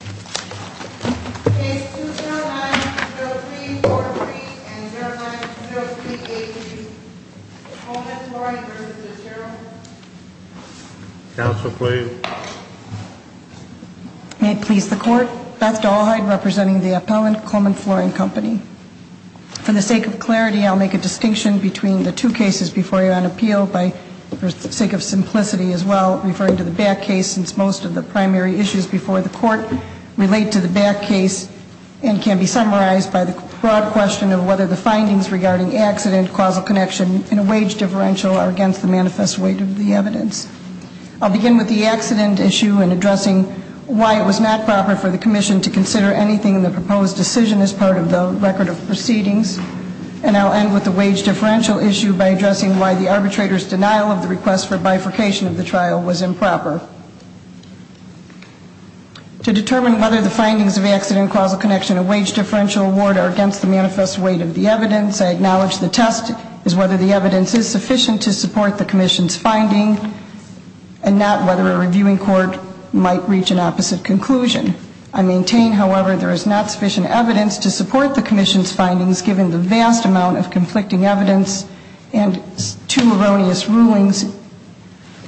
Case 209-0343 and 209-0382, Coleman Flooring v. DeGerald Counsel, please May it please the Court, Beth Dahlheide representing the appellant, Coleman Flooring Company For the sake of clarity, I'll make a distinction between the two cases before you on appeal by, for the sake of simplicity as well, referring to the back case since most of the primary issues before the Court relate to the back case and can be summarized by the broad question of whether the findings regarding accident, causal connection, and a wage differential are against the manifest weight of the evidence I'll begin with the accident issue in addressing why it was not proper for the Commission to consider anything in the proposed decision as part of the Record of Proceedings And I'll end with the wage differential issue by addressing why the arbitrator's denial of the request for bifurcation of the trial was improper To determine whether the findings of accident, causal connection, and wage differential award are against the manifest weight of the evidence, I acknowledge the test is whether the evidence is sufficient to support the Commission's finding and not whether a reviewing court might reach an opposite conclusion I maintain, however, there is not sufficient evidence to support the Commission's findings given the vast amount of conflicting evidence and two erroneous rulings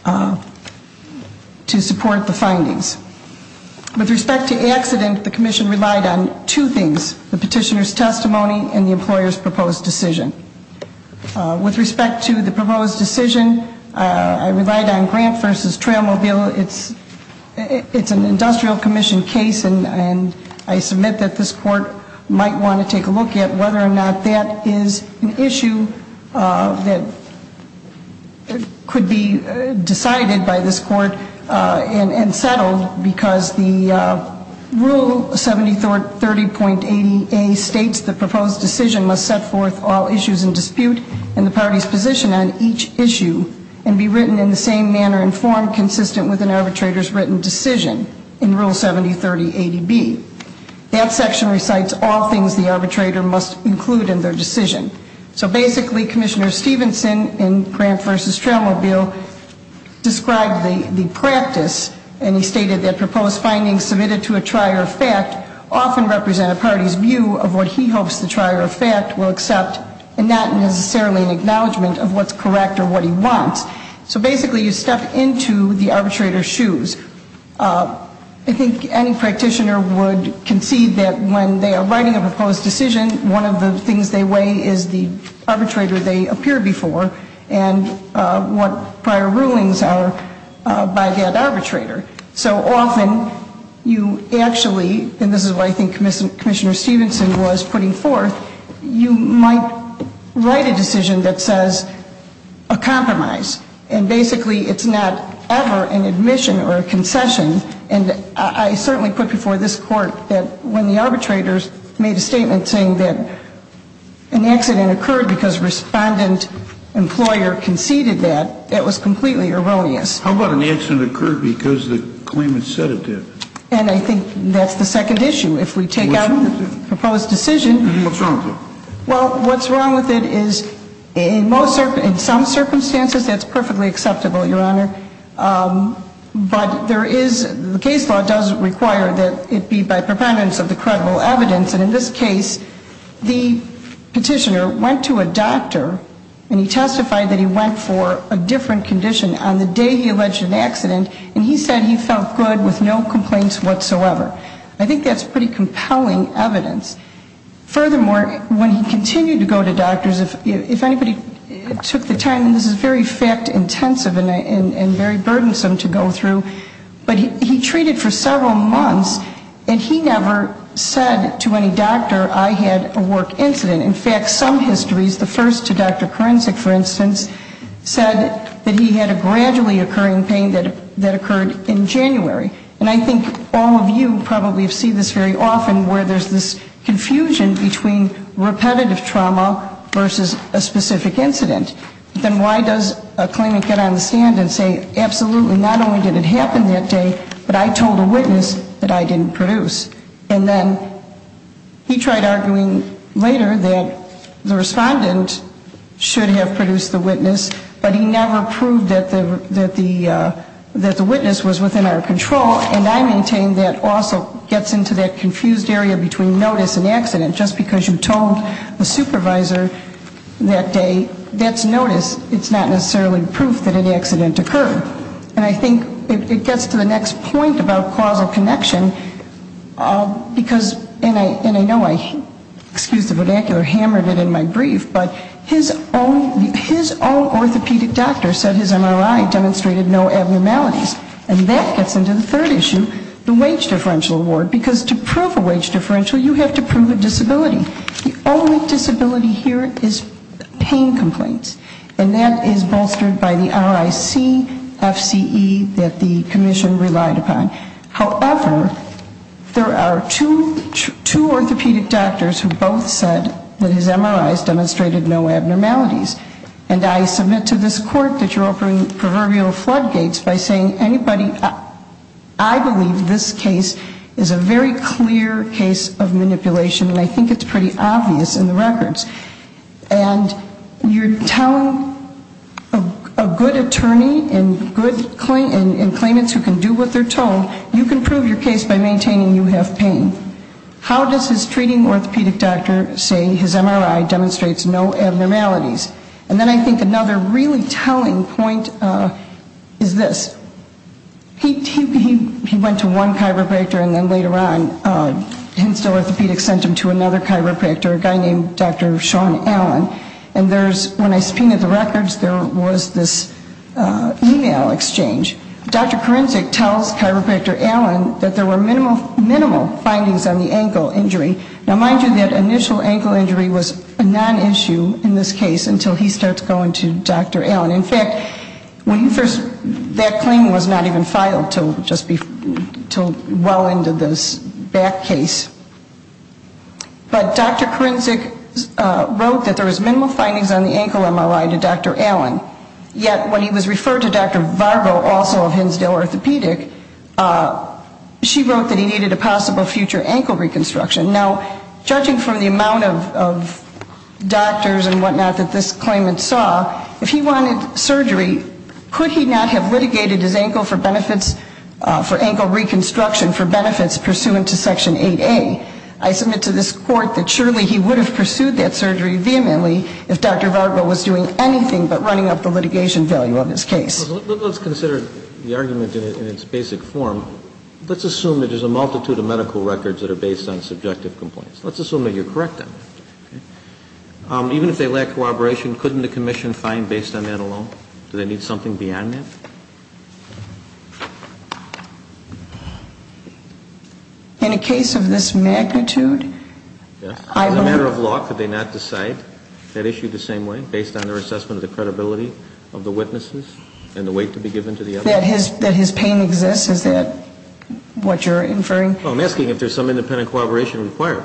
to support the findings With respect to accident, the Commission relied on two things, the petitioner's testimony and the employer's proposed decision With respect to the proposed decision, I relied on Grant v. Trailmobile It's an Industrial Commission case and I submit that this court might want to take a look at whether or not that is an issue that could be decided by this court and settled because the Rule 7030.80a states the proposed decision must set forth all issues in dispute and the party's position on each issue and be written in the same manner and form not consistent with an arbitrator's written decision in Rule 7030.80b That section recites all things the arbitrator must include in their decision So basically, Commissioner Stevenson in Grant v. Trailmobile described the practice and he stated that proposed findings submitted to a trier of fact often represent a party's view of what he hopes the trier of fact will accept and not necessarily an acknowledgement of what's correct or what he wants So basically, you step into the arbitrator's shoes I think any practitioner would concede that when they are writing a proposed decision one of the things they weigh is the arbitrator they appeared before and what prior rulings are by that arbitrator So often, you actually, and this is what I think Commissioner Stevenson was putting forth you might write a decision that says a compromise and basically it's not ever an admission or a concession and I certainly put before this court that when the arbitrators made a statement saying that an accident occurred because respondent employer conceded that that was completely erroneous How about an accident occurred because the claimant said it did? And I think that's the second issue, if we take out a proposed decision What's wrong with it? Well, what's wrong with it is in some circumstances that's perfectly acceptable, Your Honor but there is, the case law does require that it be by preponderance of the credible evidence and in this case the petitioner went to a doctor and he testified that he went for a different condition on the day he alleged an accident and he said he felt good with no complaints whatsoever. I think that's pretty compelling evidence. Furthermore, when he continued to go to doctors, if anybody took the time and this is very fact intensive and very burdensome to go through but he treated for several months and he never said to any doctor I had a work incident. In fact, some histories, the first to Dr. Korincic for instance said that he had a gradually occurring pain that occurred in January and I think all of you probably have seen this very often where there's this confusion between repetitive trauma versus a specific incident. Then why does a claimant get on the stand and say absolutely not only did it happen that day but I told a witness that I didn't produce? And then he tried arguing later that the respondent should have produced the witness but he never proved that the witness was within our control and I maintain that also gets into that confused area between notice and accident just because you told a supervisor that day that's notice, it's not necessarily proof that an accident occurred. And I think it gets to the next point about causal connection because and I know I, excuse the vernacular, hammered it in my brief but his own orthopedic doctor said his MRI demonstrated no abnormalities and that gets into the third issue, the wage differential award because to prove a wage differential you have to prove a disability. The only disability here is pain complaints and that is bolstered by the RICFCE that the commission relied upon. However, there are two orthopedic doctors who both said that his MRIs demonstrated no abnormalities and I submit to this court that you're opening proverbial floodgates by saying anybody, I believe this case is a very clear case of manipulation and I think it's pretty obvious in the records. And you're telling a good attorney and good claimants who can do what they're told, you can prove your case by maintaining you have pain. How does his treating orthopedic doctor say his MRI demonstrates no abnormalities? And then I think another really telling point is this. He went to one chiropractor and then later on, hence the orthopedic sent him to another chiropractor, a guy named Dr. Sean Allen and there's, when I speak of the records, there was this e-mail exchange. Dr. Korincic tells chiropractor Allen that there were minimal findings on the ankle injury. Now, mind you, that initial ankle injury was a non-issue in this case until he starts going to Dr. Allen. In fact, when he first, that claim was not even filed until well into this back case. But Dr. Korincic wrote that there was minimal findings on the ankle MRI to Dr. Allen, yet when he was referred to Dr. Vargo, also of Hinsdale Orthopedic, she wrote that he needed a possible future ankle reconstruction. Now, judging from the amount of doctors and whatnot that this claimant saw, if he wanted surgery, could he not have litigated his ankle for benefits, for ankle reconstruction for benefits pursuant to Section 8A? I submit to this Court that surely he would have pursued that surgery vehemently if Dr. Vargo was doing anything but running up the litigation value of his case. Let's consider the argument in its basic form. Let's assume that there's a multitude of medical records that are based on subjective complaints. Let's assume that you're correct on that. Even if they lack corroboration, couldn't the commission find based on that alone? Do they need something beyond that? In a case of this magnitude, I will... As a matter of law, could they not decide that issue the same way based on their assessment of the credibility of the witnesses and the weight to be given to the other? That his pain exists, is that what you're inferring? I'm asking if there's some independent corroboration required.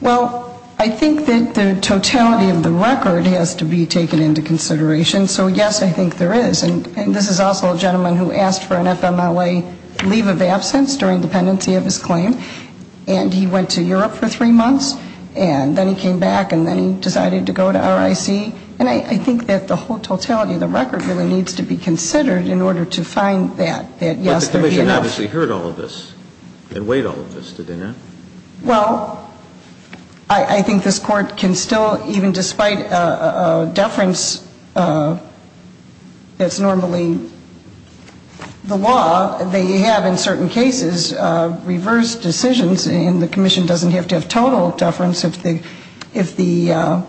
Well, I think that the totality of the record has to be taken into consideration. So yes, I think there is. And this is also a gentleman who asked for an FMLA leave of absence during dependency of his claim. And he went to Europe for three months. And then he came back and then he decided to go to RIC. And I think that the whole totality of the record really needs to be considered in order to find that. But the commission obviously heard all of this and weighed all of this, did they not? Well, I think this Court can still, even despite a deference that's normally the law, they have in certain cases reversed decisions. And the commission doesn't have to have total deference if the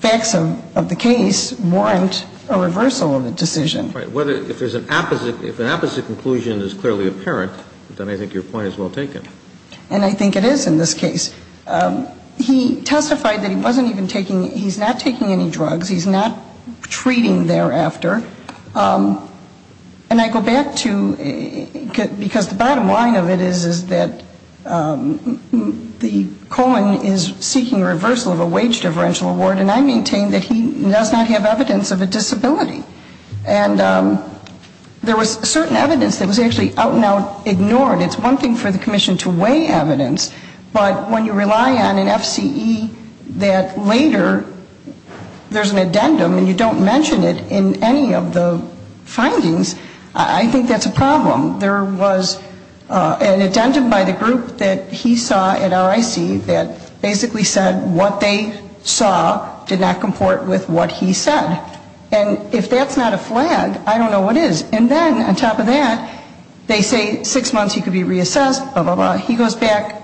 facts of the case warrant a reversal of the decision. Right. If an opposite conclusion is clearly apparent, then I think your point is well taken. And I think it is in this case. He testified that he wasn't even taking, he's not taking any drugs. He's not treating thereafter. And I go back to, because the bottom line of it is that the colon is seeking a reversal of a wage differential award. And I maintain that he does not have evidence of a disability. And there was certain evidence that was actually out and out ignored. It's one thing for the commission to weigh evidence, but when you rely on an FCE that later there's an addendum and you don't mention it in any of the findings, I think that's a problem. There was an addendum by the group that he saw at RIC that basically said what they saw did not comport with what he said. And if that's not a flag, I don't know what is. And then on top of that, they say six months he could be reassessed, blah, blah, blah. He goes back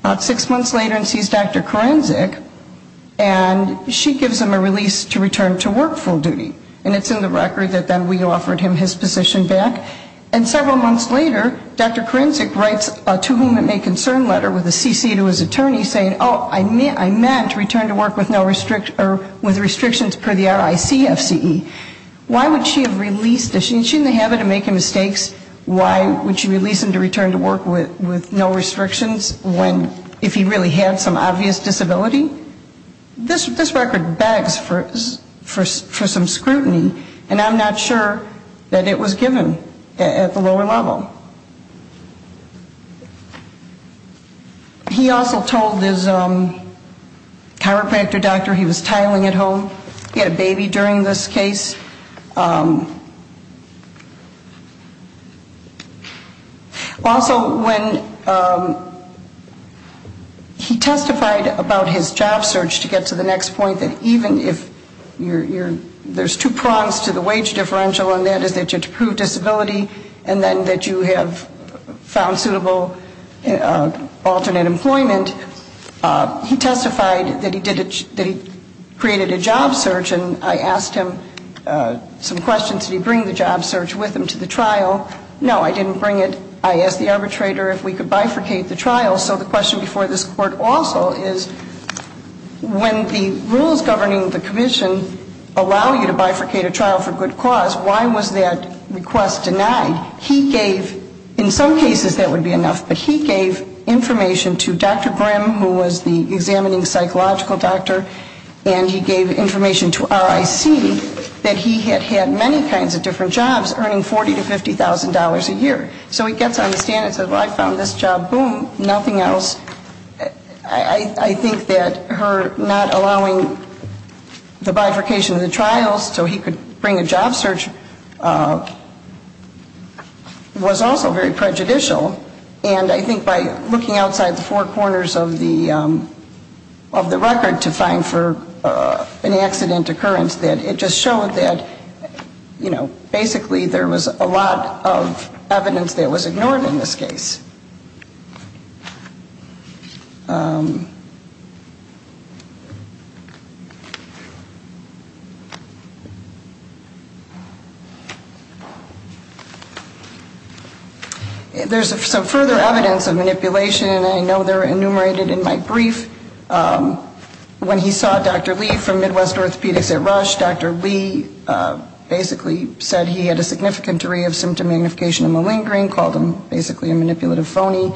about six months later and sees Dr. Korenzic and she gives him a release to return to work full duty. And it's in the record that then we offered him his position back. And several months later, Dr. Korenzic writes a to whom it may concern letter with a CC to his attorney saying, oh, I meant return to work with restrictions per the RIC FCE. Why would she have released him? Is she in the habit of making mistakes? Why would you release him to return to work with no restrictions when, if he really had some obvious disability? This record begs for some scrutiny, and I'm not sure that it was given at the lower level. He also told his chiropractor doctor he was tiling at home. He had a baby during this case. Also, when he testified about his job search to get to the next point, that even if you're, there's two prongs to the wage differential, and that is that you're looking to prove disability, and then that you have found suitable alternate employment. He testified that he did, that he created a job search, and I asked him some questions. Did he bring the job search with him to the trial? No, I didn't bring it. I asked the arbitrator if we could bifurcate the trial. So the question before this court also is, when the rules governing the commission allow you to bifurcate a trial for good cause, why was that request denied? He gave, in some cases that would be enough, but he gave information to Dr. Grimm, who was the examining psychological doctor, and he gave information to RIC that he had had many kinds of different jobs earning $40,000 to $50,000 a year. So he gets on the stand and says, well, I found this job, boom, nothing else. I think that her not allowing the bifurcation of the trials so he could bring a job search, was also very prejudicial, and I think by looking outside the four corners of the record to find for an accident occurrence, that it just showed that, you know, basically there was a lot of evidence that was ignored in this case. There's some further evidence of manipulation, and I know they're enumerated in my brief. When he saw Dr. Lee from Midwest Orthopedics at Rush, Dr. Lee basically said he had a significant degree of symptom magnification and malingering, called him basically a manipulative phony.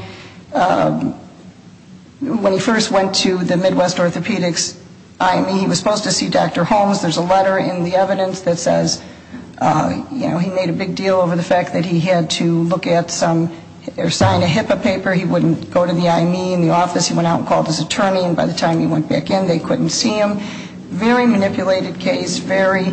When he first went to the Midwest Orthopedics IME, he was supposed to see Dr. Holmes. There's a letter in the evidence that says, you know, he made a big deal over the fact that he had to look at some or sign a HIPAA paper, he wouldn't go to the IME in the office, he went out and called his attorney, and by the time he went back in, they couldn't see him. Very manipulated case, very,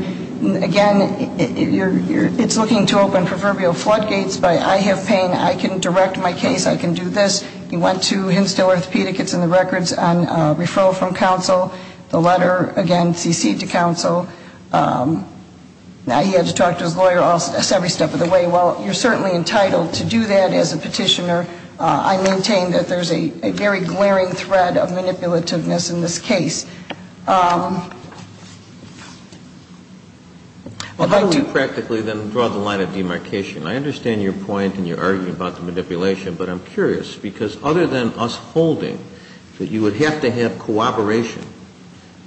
again, it's looking to open proverbial floodgates by I have pain, I can direct my case, I can do this. He went to Hinsdale Orthopedic, it's in the records, on referral from counsel. The letter, again, ceceded to counsel. Now he had to talk to his lawyer every step of the way. While you're certainly entitled to do that as a petitioner, I maintain that there's a very glaring thread of manipulativeness in this case. I'd like to ----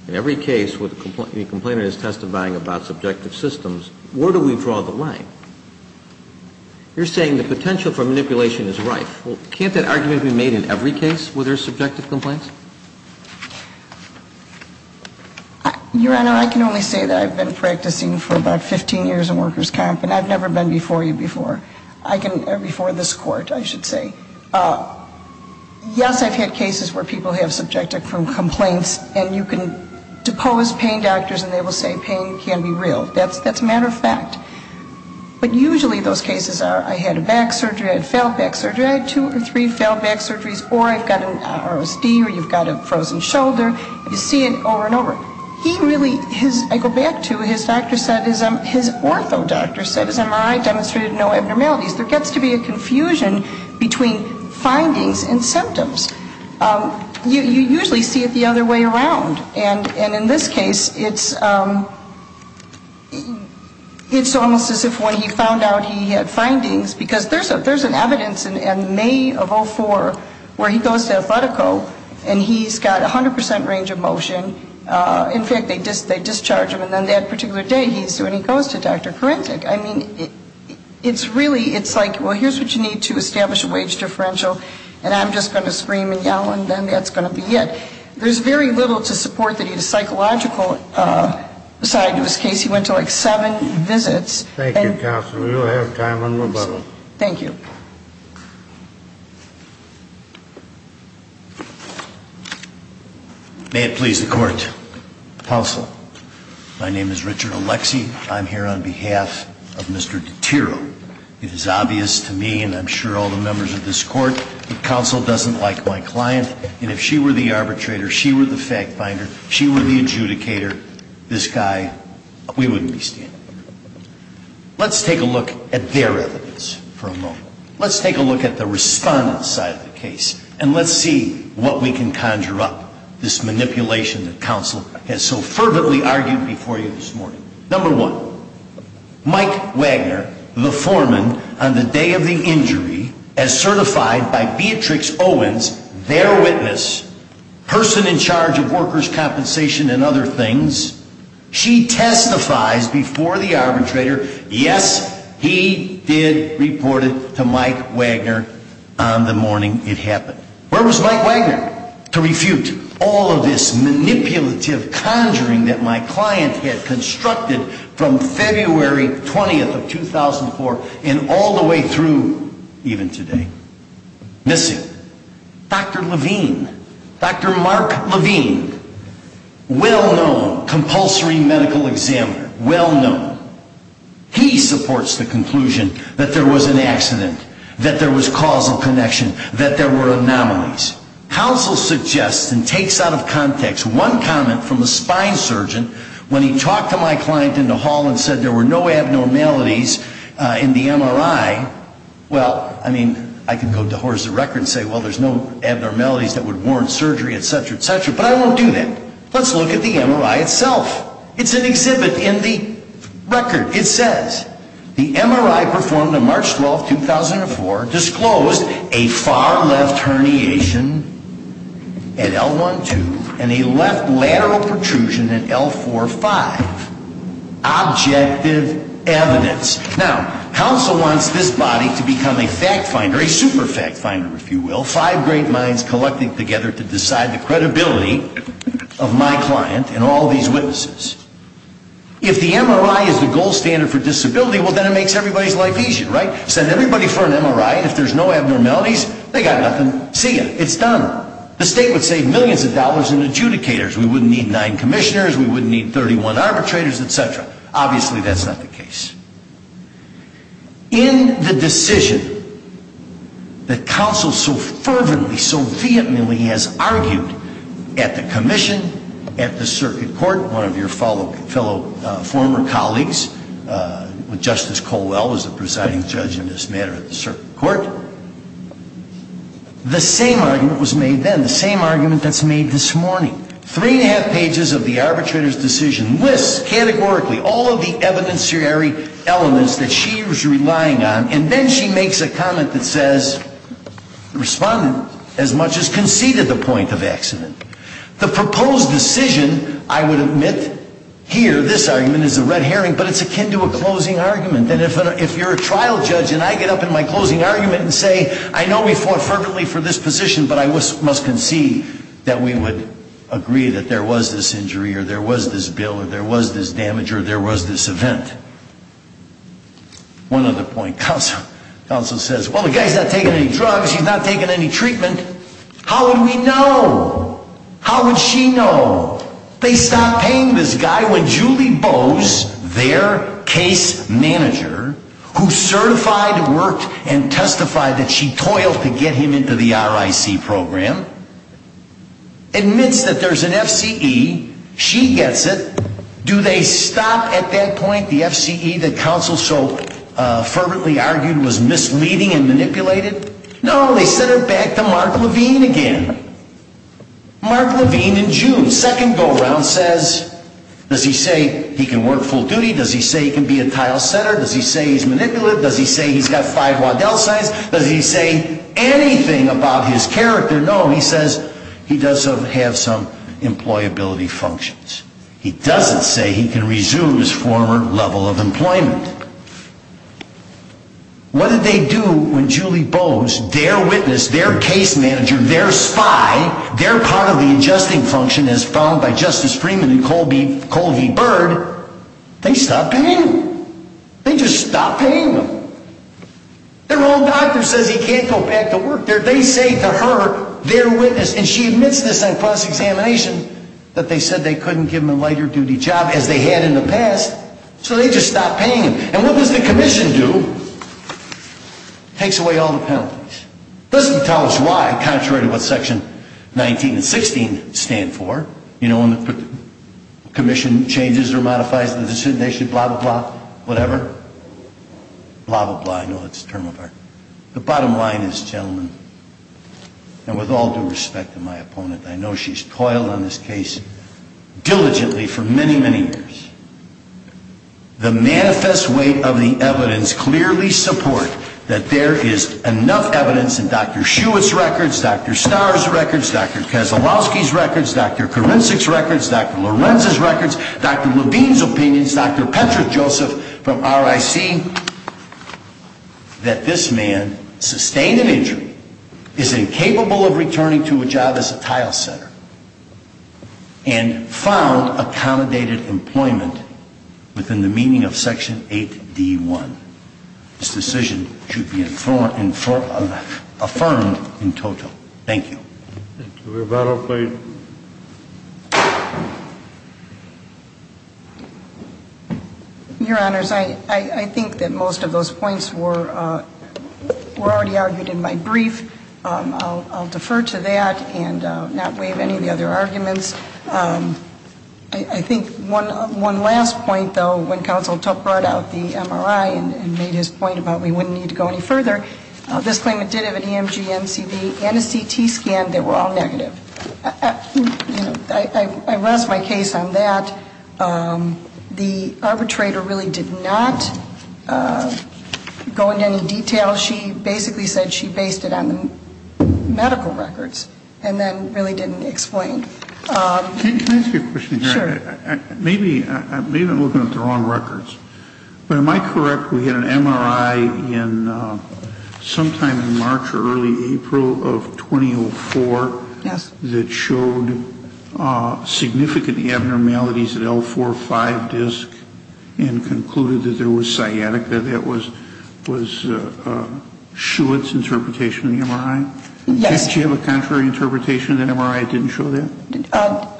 In every case where the complainant is testifying about subjective systems, where do we draw the line? You're saying the potential for manipulation is rife. Well, can't that argument be made in every case where there's subjective complaints? Your Honor, I can only say that I've been practicing for about 15 years in workers' camp, and I've never been before you before, or before this Court, I should say. Yes, I've had cases where people have subjective complaints, and you can depose pain doctors and they will say pain can be real. That's a matter of fact. But usually those cases are I had a back surgery, I had a failed back surgery, I had two or three failed back surgeries, or I've got an RSD, or you've got a frozen shoulder. You see it over and over. So he really, I go back to his doctor said, his ortho doctor said his MRI demonstrated no abnormalities. There gets to be a confusion between findings and symptoms. You usually see it the other way around. And in this case, it's almost as if when he found out he had findings, because there's an evidence in May of 04 where he goes to his doctor, in fact, they discharge him, and then that particular day he goes to Dr. Korentic. I mean, it's really, it's like, well, here's what you need to establish a wage differential, and I'm just going to scream and yell and then that's going to be it. There's very little to support that he's psychological side to his case. He went to like seven visits. Thank you. May it please the court. Counsel, my name is Richard Alexi. I'm here on behalf of Mr. DeTiro. It is obvious to me and I'm sure all the members of this court that counsel doesn't like my client, and if she were the arbitrator, she were the fact finder, she were the adjudicator, this guy, we wouldn't be standing here. Let's take a look at their evidence for a moment. Let's take a look at the respondent's side of the case, and let's see what we can conjure up, this manipulation that counsel has so fervently argued before you this morning. Number one, Mike Wagner, the foreman on the day of the injury, as certified by Beatrix Owens, their witness, person in charge of workers' compensation and other things, she testifies before the arbitrator, yes, he did report it to Mike Wagner on the morning it happened. Where was Mike Wagner? To refute all of this manipulative conjuring that my client had constructed from February 20th of 2004 and all the way through even today. Dr. Levine, Dr. Mark Levine, well-known compulsory medical examiner, well-known. He supports the conclusion that there was an accident, that there was causal connection, that there were anomalies. Counsel suggests and takes out of context one comment from a spine surgeon when he talked to my client in the hall and said there were no abnormalities in the MRI. Well, I mean, I could go to horse the record and say, well, there's no abnormalities that would warrant surgery, et cetera, et cetera, but I won't do that. Let's look at the MRI itself. It's an exhibit in the record. It says the MRI performed on March 12th, 2004 disclosed a far left herniation at L1, 2, and a left lateral protrusion at L4, 5. Objective evidence. Now, counsel wants this body to become a fact finder, a super fact finder, if you will, five great minds collecting together to decide the credibility of my client and all these witnesses. If the MRI is the gold standard for disability, well, then it makes everybody's life easier, right? Send everybody for an MRI. If there's no abnormalities, they got nothing. See ya. It's done. The state would save millions of dollars in adjudicators. We wouldn't need nine commissioners. We wouldn't need 31 arbitrators, et cetera. Obviously, that's not the case. In the decision that counsel so fervently, so vehemently has argued at the commission, at the circuit court, one of your fellow former colleagues, Justice Colwell was the presiding judge in this matter at the circuit court, the same argument was made then, the same argument that's made this morning. Three and a half pages of the arbitrator's decision lists categorically all of the evidentiary elements that she was relying on, and then she makes a comment that says the respondent as much as conceded the point of accident. The proposed decision, I would admit, here, this argument is a red herring, but it's akin to a closing argument. And if you're a trial judge and I get up in my closing argument and say, I know we fought fervently for this position, but I must concede that we would agree that there was this injury or there was this bill or there was this damage or there was this event. One other point. Counsel says, well, the guy's not taking any drugs, he's not taking any treatment. How would we know? How would she know? They stopped paying this guy when Julie Bowes, their case manager, who certified and worked and testified that she toiled to get him into the RIC program, admits that there's an FCE, she gets it. Do they stop at that point, the FCE that counsel so fervently argued was misleading and manipulated? No, they send her back to Mark Levine again. Mark Levine in June, second go-round, says, does he say he can work full duty? Does he say he can be a tile setter? Does he say he's manipulative? Does he say he's got five Waddell signs? Does he say anything about his character? No, he says he does have some employability functions. He doesn't say he can resume his former level of employment. What did they do when Julie Bowes, their witness, their case manager, their spy, their part of the adjusting function as found by Justice Freeman and Colby Bird, they stopped paying them. They just stopped paying them. Their own doctor says he can't go back to work. They say to her, their witness, and she admits this on cross-examination, that they said they couldn't give him a lighter duty job as they had in the past, so they just stopped paying them. And what does the commission do? Takes away all the penalties. Doesn't tell us why, contrary to what section 19 and 16 stand for, you know, commission changes or modifies the designation, blah, blah, blah, whatever. Blah, blah, blah, I know that's a term of art. The bottom line is, gentlemen, and with all due respect to my opponent, I know she's toiled on this case diligently for many, many years. The manifest weight of the evidence clearly support that there is enough evidence in Dr. Schuett's records, Dr. Starr's records, Dr. Kozlowski's records, Dr. Korincic's records, Dr. Lorenz's records, Dr. Levine's opinions, Dr. Petra Joseph from RIC, that this man, sustained in injury, is incapable of returning to a job as a tile setter. And found accommodated employment within the meaning of section 8D1. This decision should be informed, affirmed in total. Thank you. Your Honor, I think that most of those points were already argued in my brief. I'll defer to that and not waive any of the other arguments. I think one last point, though, when Counsel Tuck brought out the MRI and made his point about we wouldn't need to go any further, this claimant did have an EMG, MCV, and a CT scan that were all negative. I rest my case on that. The arbitrator really did not go into any detail. She basically said she based it on the medical records. And then really didn't explain. Maybe I'm looking at the wrong records. But am I correct, we had an MRI sometime in March or early April of 2004 that showed significant abnormalities at L45 disc and concluded that there was sciatica. That was Schuett's interpretation of the MRI? Yes. Did she have a contrary interpretation of the MRI that didn't show that?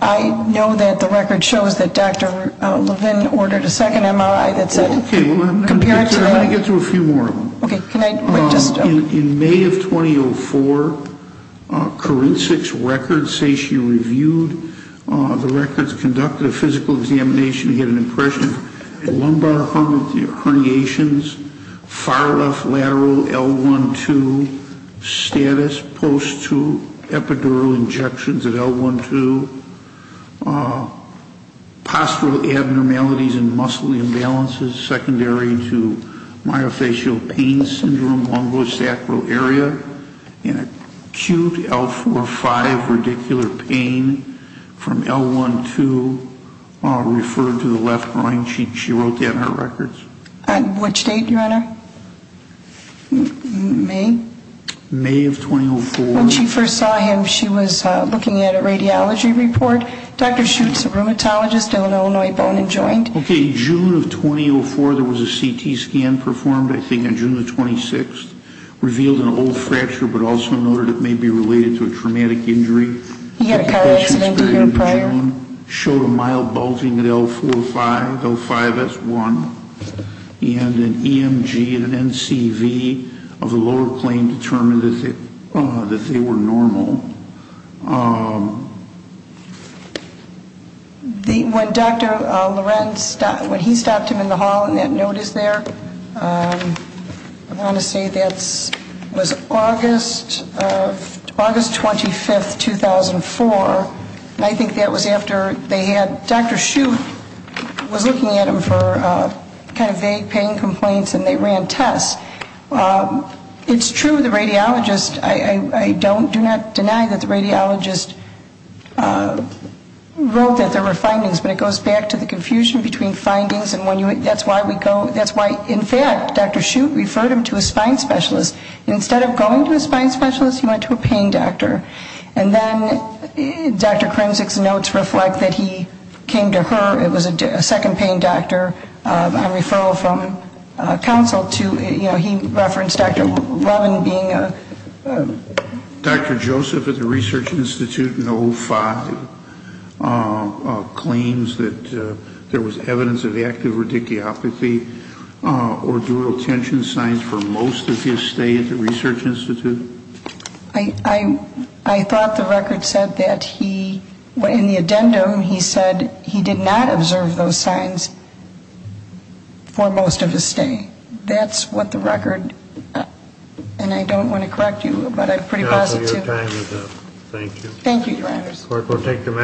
I know that the record shows that Dr. Levin ordered a second MRI that said... Okay, well, I'm going to get through a few more of them. In May of 2004, Korincic's records say she reviewed the records, conducted a physical examination, had an impression of lumbar herniations, far-left lateral L12 status, post-2 epidural injections at L12, postural abnormalities and muscle imbalances secondary to myofascial pain syndrome, lumbosacral area, and acute L45 radicular pain from L12 referred to the left groin. She wrote that in her records. On which date, Your Honor? May? May of 2004. When she first saw him, she was looking at a radiology report. Dr. Schuett's a rheumatologist at Illinois Bone and Joint. Okay, June of 2004, there was a CT scan performed, I think on June the 26th, revealed an old fracture, but also noted it may be related to a traumatic injury. He had a car accident in June. Showed a mild bulging at L45, L5S1, and an EMG and an NCV of the lower plane determined that they were normal. When Dr. Lorenz, when he stopped him in the hall and that note is there, I want to say that was August 25th, 2004, and I think that was after they had Dr. Schuett was looking at him for kind of vague pain complaints and they ran tests. It's true, the radiologist, I do not deny that the radiologist wrote that there were findings, but it goes back to the confusion between findings and when you, that's why we go, that's why in fact Dr. Schuett referred him to a spine specialist. Instead of going to a spine specialist, he went to a pain doctor. And then Dr. Kremzig's notes reflect that he came to her, it was a second pain doctor, a referral from counsel to, you know, he referenced Dr. Levin being a... Dr. Joseph at the Research Institute in L5 claims that there was evidence of active radicopathy or dural tension signs for most of his stay at the Research Institute. I thought the record said that he, in the addendum, he said he did not observe those signs for most of his stay. That's what the record, and I don't want to correct you, but I'm pretty positive. Thank you.